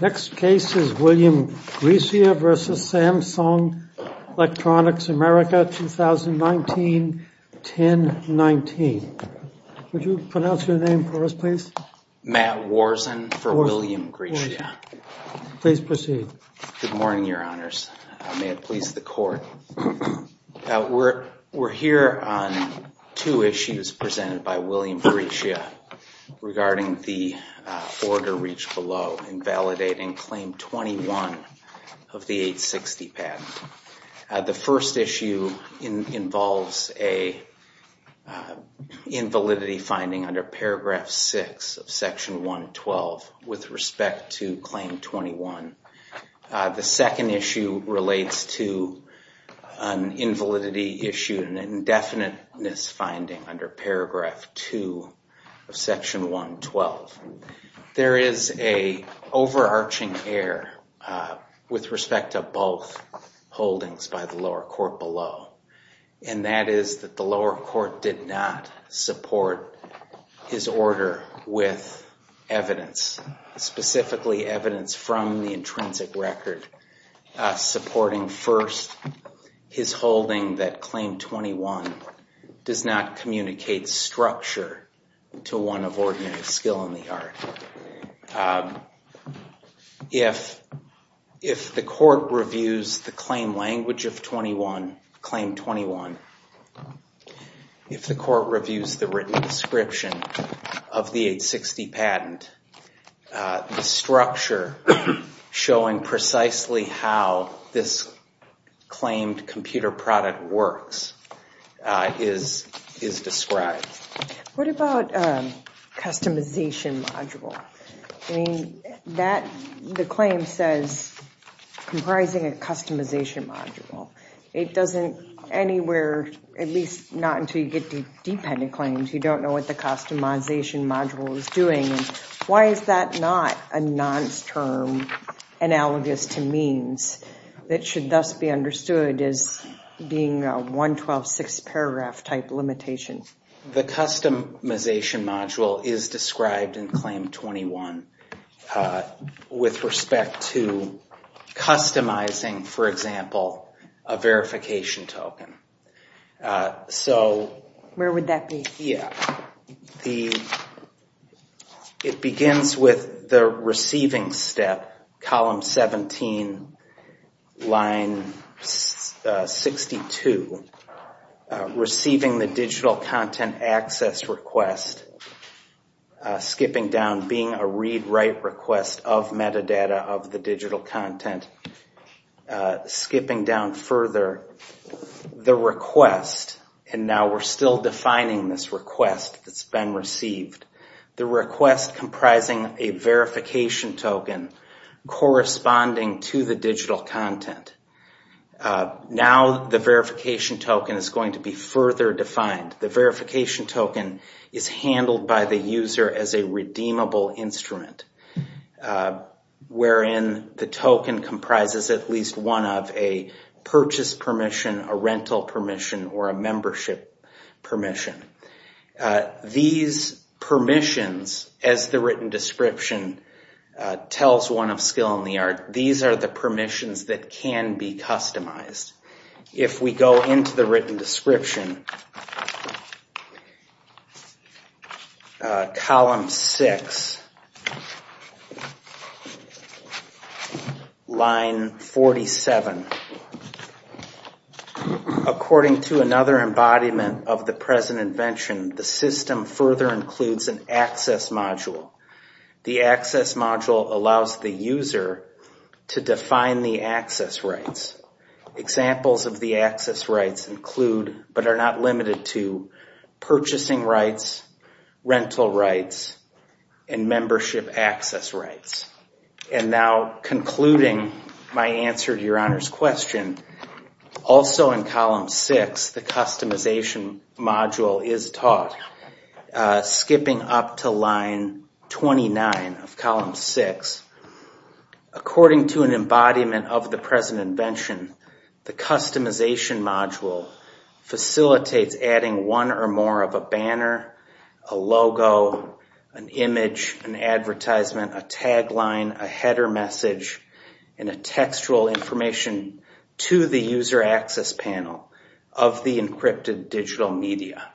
Next case is William Grecia v. Samsung Electronics America 2019-10-19. Would you pronounce your name for us please? Matt Worzen for William Grecia. Please proceed. Good morning, your honors. May it please the court, we're here on two issues presented by William Grecia regarding the order reached below invalidating claim 21 of the 860 patent. The first issue involves an invalidity finding under paragraph 6 of section 112 with respect to claim 21. The second issue relates to an invalidity issue and an indefiniteness finding under paragraph 2 of section 112. There is an overarching error with respect to both holdings by the lower court below and that is that the lower court did not support his order with evidence, specifically evidence from the intrinsic record supporting first his holding that claim 21 does not communicate structure to one of ordinary skill in the art. If the court reviews the claim language of claim 21, if the court reviews the written description of the 860 patent, the structure showing precisely how this claimed computer product works is described. What about customization module? The claim says comprising a customization module. It doesn't anywhere, at least not until you get to dependent claims, you don't know what the customization module is doing. Why is that not a non-term analogous to means that should thus be understood as being a 112 six paragraph type limitation? The customization module is described in claim 21 with respect to customizing, for example, a verification token. Where would that be? Yeah, it begins with the receiving step, column 17, line 62, receiving the digital content access request, skipping down, being a read write request of metadata of the digital content, skipping down further, the request, and now we're still defining this request that's been received, the request comprising a verification token corresponding to the digital content. Now the verification token is going to be further defined. The verification token is handled by the user as a redeemable instrument wherein the token comprises at least one of a purchase permission, a rental permission, or a membership permission. These permissions, as the written description tells one of Skill in the Art, these are the If we go into the written description, column 6, line 47, according to another embodiment of the present invention, the system further includes an access module. The access module allows the user to define the access rights. Examples of the access rights include, but are not limited to, purchasing rights, rental rights, and membership access rights. And now concluding my answer to Your Honor's question, also in column 6, the customization module is taught, skipping up to line 29 of column 6. According to an embodiment of the present invention, the customization module facilitates adding one or more of a banner, a logo, an image, an advertisement, a tagline, a header message, and a textual information to the user access panel of the encrypted digital media.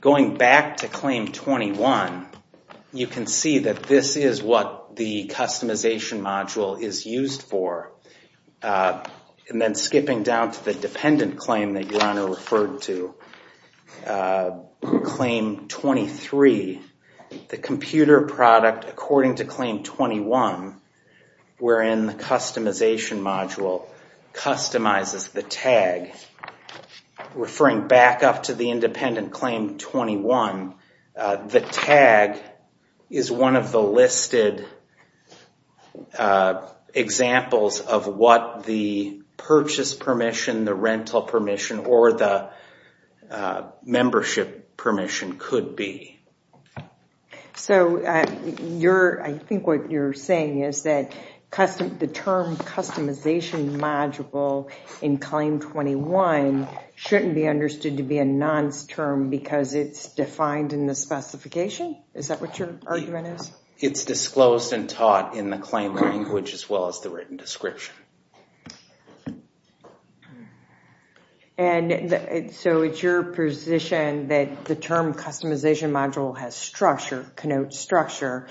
Going back to claim 21, you can see that this is what the customization module is used for. And then skipping down to the dependent claim that Your Honor referred to, claim 23, the computer product, according to claim 21, wherein the customization module customizes the tag. Referring back up to the independent claim 21, the tag is one of the listed examples of what the purchase permission, the rental permission, or the membership permission could be. So, I think what you're saying is that the term customization module in claim 21 shouldn't be understood to be a nonce term because it's defined in the specification? Is that what your argument is? It's disclosed and taught in the claim language as well as the written description. And so, it's your position that the term customization module has structure, connotes structure.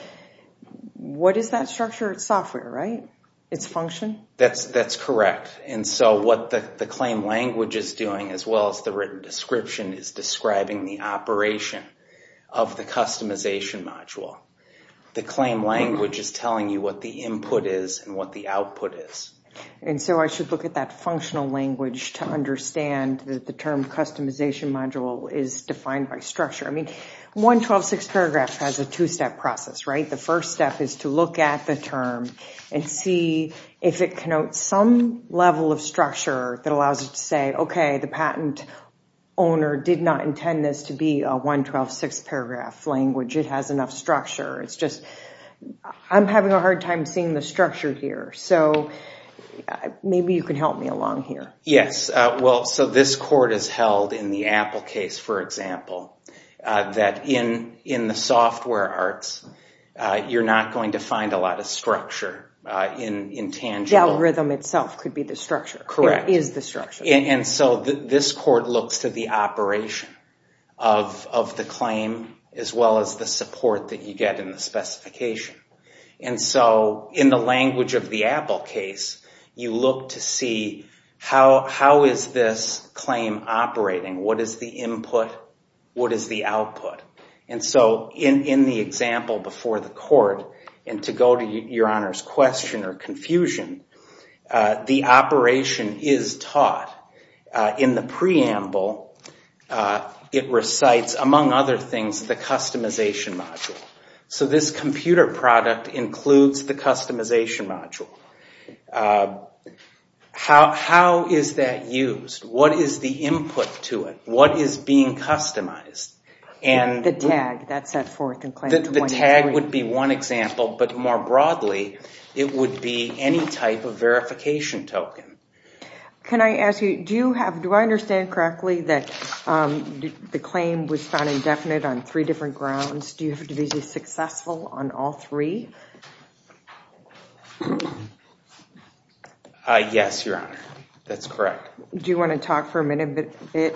What is that structure? It's software, right? It's function? That's correct. And so, what the claim language is doing as well as the written description is describing the operation of the customization module. The claim language is telling you what the input is and what the output is. And so, I should look at that functional language to understand that the term customization module is defined by structure. I mean, 112-6 paragraph has a two-step process, right? The first step is to look at the term and see if it connotes some level of structure that allows it to say, okay, the patent owner did not intend this to be a 112-6 paragraph language. It has enough structure. It's just, I'm having a hard time seeing the structure here. So, maybe you can help me along here. Yes. Well, so this court has held in the Apple case, for example, that in the software arts, you're not going to find a lot of structure in tangible. The algorithm itself could be the structure. Correct. It is the structure. And so, this court looks to the operation of the claim as well as the support that you get in the specification. And so, in the language of the Apple case, you look to see how is this claim operating? What is the input? What is the output? And so, in the example before the court, and to go to Your Honor's question or confusion, the operation is taught. In the preamble, it recites, among other things, the customization module. So, this computer product includes the customization module. How is that used? What is the input to it? What is being customized? The tag that's set forth in Claim 2103. The tag would be one example, but more broadly, it would be any type of verification token. Can I ask you, do I understand correctly that the claim was found indefinite on three different grounds? Do you have to be successful on all three? Yes, Your Honor. That's correct. Do you want to talk for a minute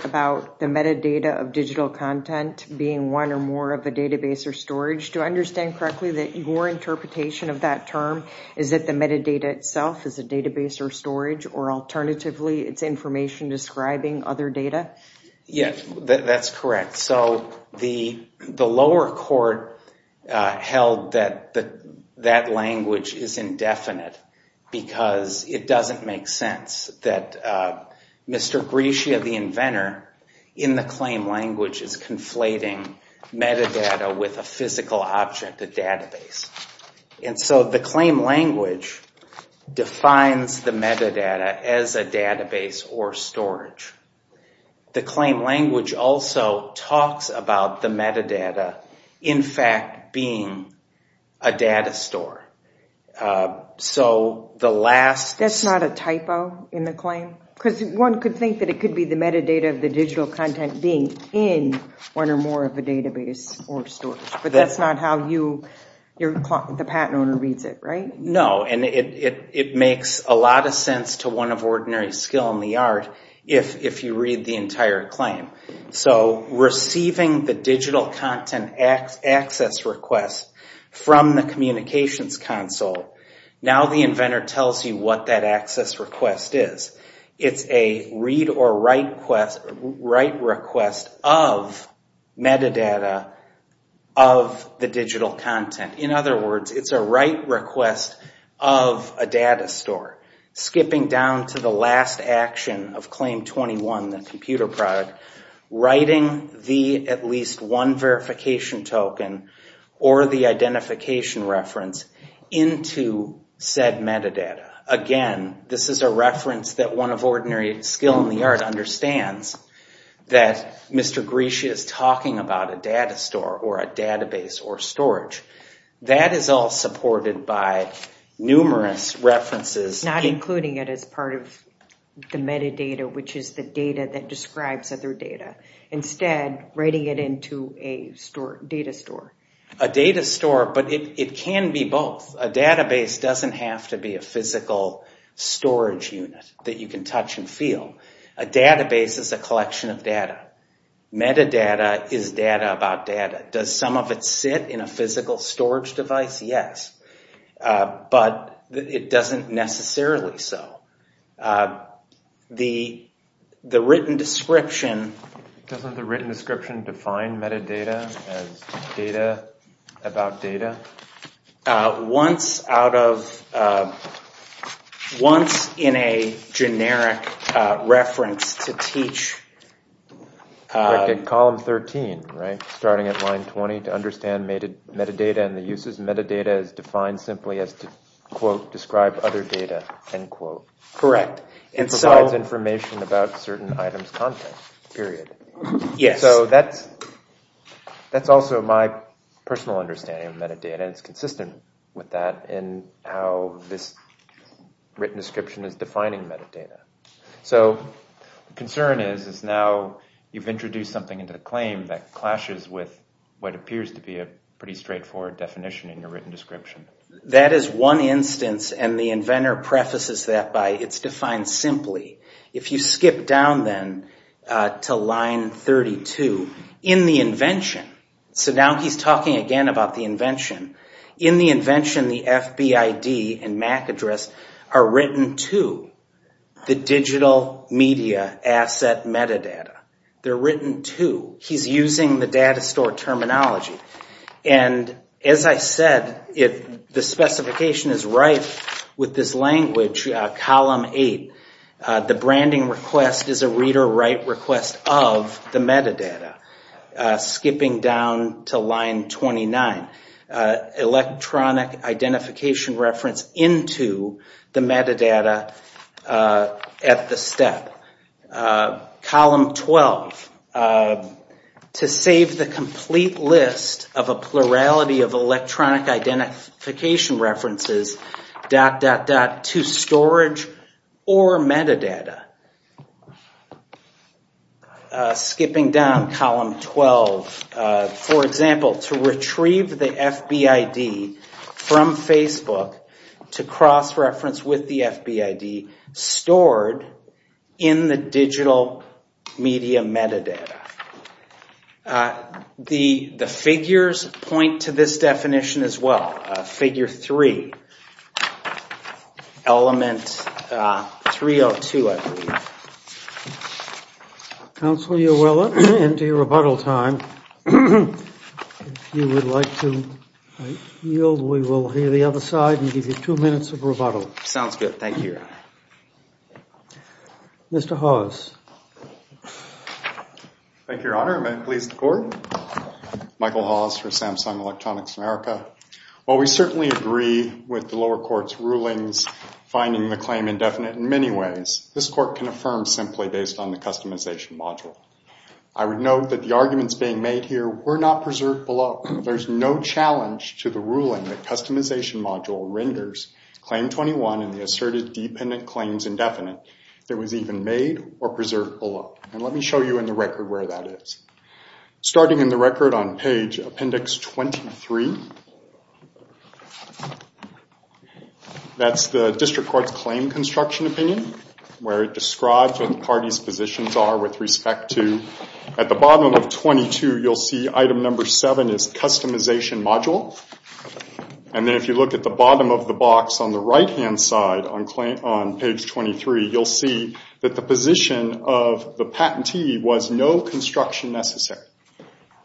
about the metadata of digital content being one or more of a database or storage? Do I understand correctly that your interpretation of that term is that the metadata itself is a database or storage, or alternatively, it's information describing other data? Yes, that's correct. So, the lower court held that that language is indefinite, because it doesn't make sense that Mr. Grecia, the inventor, in the claim language is conflating metadata with a physical object, a database. And so, the claim language defines the metadata as a database or storage. The claim language also talks about the metadata, in fact, being a data store. That's not a typo in the claim? Because one could think that it could be the metadata of the digital content being in one or more of a database or storage, but that's not how the patent owner reads it, right? No, and it makes a lot of sense to one of ordinary skill in the art if you read the entire claim. So, receiving the digital content access request from the communications console, now the inventor tells you what that access request is. It's a read or write request of metadata of the digital content. In other words, it's a write request of a data store. Skipping down to the last action of claim 21, the computer product, writing the at least one verification token or the identification reference into said metadata. Again, this is a reference that one of ordinary skill in the art understands that Mr. Grecia is talking about a data store or a database or storage. That is all supported by numerous references. Not including it as part of the metadata, which is the data that describes other data. Instead, writing it into a data store. A data store, but it can be both. A database doesn't have to be a physical storage unit that you can touch and feel. A database is a collection of data. Metadata is data about data. Does some of it sit in a physical storage device? Yes, but it doesn't necessarily so. The written description... Doesn't the written description define metadata as data about data? Once in a generic reference to teach... To understand metadata and the uses of metadata is defined simply as to quote, describe other data, end quote. Correct. It's all information about certain items, content, period. So that's also my personal understanding of metadata. It's consistent with that in how this written description is defining metadata. So the concern is now you've introduced something into the claim that clashes with what appears to be a pretty straightforward definition in your written description. That is one instance, and the inventor prefaces that by it's defined simply. If you skip down then to line 32, in the invention... So now he's talking again about the invention. In the invention, the FBID and MAC address are written to the digital media asset metadata. They're written to... And as I said, if the specification is right with this language, column 8, the branding request is a read or write request of the metadata. Skipping down to line 29, electronic identification reference into the metadata at the step. Column 12, to save the complete list of a plurality of electronic identification references to storage or metadata. Skipping down column 12, for example, to retrieve the FBID from Facebook to cross reference with the FBID stored in the digital media metadata. The figures point to this definition as well. Figure 3, element 302, I believe. Counselor, you're well into your rebuttal time. If you would like to yield, we will hear the other side and give you two minutes of rebuttal. Sounds good. Thank you, Your Honor. Mr. Hawes. Thank you, Your Honor. Am I pleased to report? Michael Hawes for Samsung Electronics America. While we certainly agree with the lower court's rulings, finding the claim indefinite in many ways, this court can affirm simply based on the customization module. I would note that the arguments being made here were not preserved below. There's no challenge to the ruling that customization module renders claim 21 in the asserted dependent claims indefinite. There was even made or preserved below. Let me show you in the record where that is. Starting in the record on page appendix 23, that's the district court's claim construction opinion, where it describes what the party's positions are with respect to... At the bottom of 22, you'll see item number 7 is customization module. If you look at the bottom of the box on the right-hand side on page 23, you'll see that the position of the patentee was no construction necessary.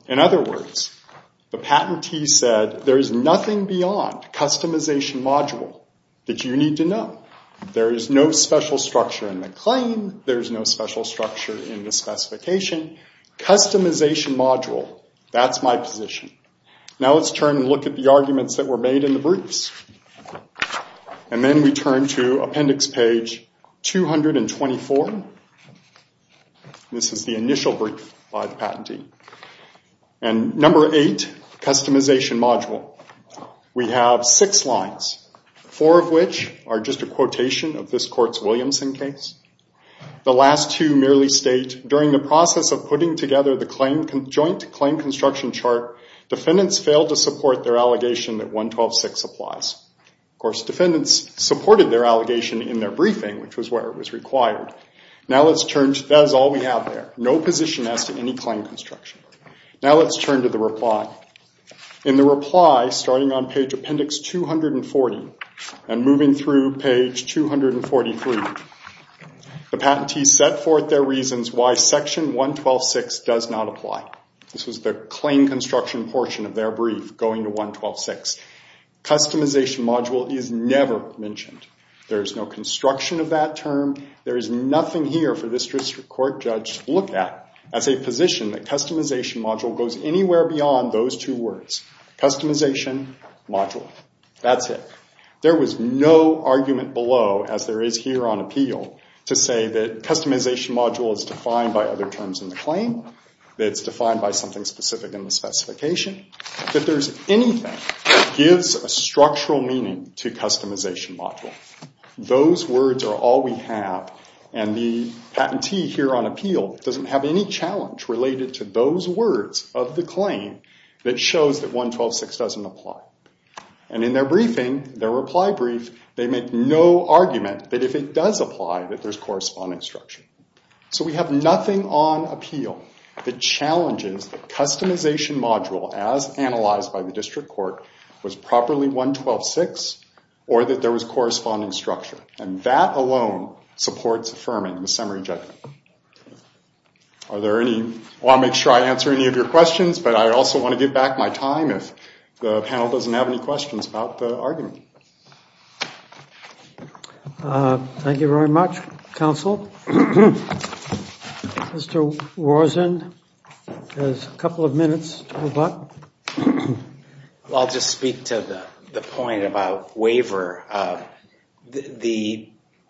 In other words, the patentee said there is nothing beyond customization module that you need to know. There is no special structure in the claim. There is no special structure in the specification. Customization module, that's my position. Now let's turn and look at the arguments that were made in the briefs. And then we turn to appendix page 224. This is the initial brief by the patentee. And number 8, customization module. We have six lines, four of which are just a quotation of this court's Williamson case. The last two merely state, during the process of putting together the joint claim construction chart, defendants failed to support their allegation that 112.6 applies. Of course, defendants supported their allegation in their briefing, which was where it was required. Now let's turn... That is all we have there. No position as to any claim construction. Now let's turn to the reply. In the reply, starting on page appendix 240 and moving through page 243, the patentee set forth their reasons why section 112.6 does not apply. This was the claim construction portion of their brief going to 112.6. Customization module is never mentioned. There is no construction of that term. There is nothing here for this district court judge to look at as a position that customization module goes anywhere beyond those two words. Customization module. That's it. There was no argument below, as there is here on appeal, to say that customization module is defined by other terms in the claim, that it's defined by something specific in the specification, that there's anything that gives a structural meaning to customization module. Those words are all we have, and the patentee here on appeal doesn't have any challenge related to those words of the claim that shows that 112.6 doesn't apply. And in their briefing, their reply brief, they make no argument that if it does apply, that there's corresponding structure. So we have nothing on appeal that challenges the customization module as analyzed by the district court was properly 112.6 or that there was corresponding structure. And that alone supports affirming the summary judgment. Are there any... I want to make sure I answer any of your questions, but I also want to give back my time if the panel doesn't have any questions about the argument. Thank you very much, counsel. Mr. Warzen has a couple of minutes to rebut. I'll just speak to the point about waiver.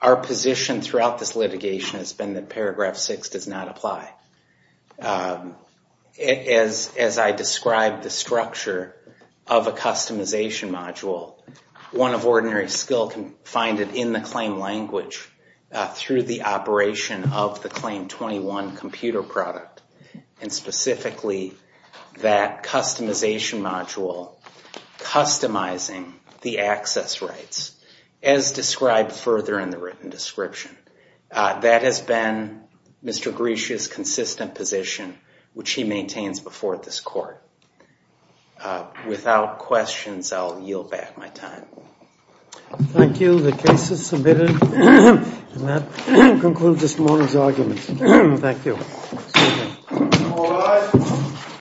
Our position throughout this litigation has been that paragraph 6 does not apply. As I described the structure of a customization module, one of ordinary skill can find it in the claim language through the operation of the claim 21 computer product. And specifically, that customization module, customizing the access rights, as described further in the written description. That has been Mr. Grish's consistent position, which he maintains before this court. But without questions, I'll yield back my time. Thank you. The case is submitted. And that concludes this morning's argument. Thank you.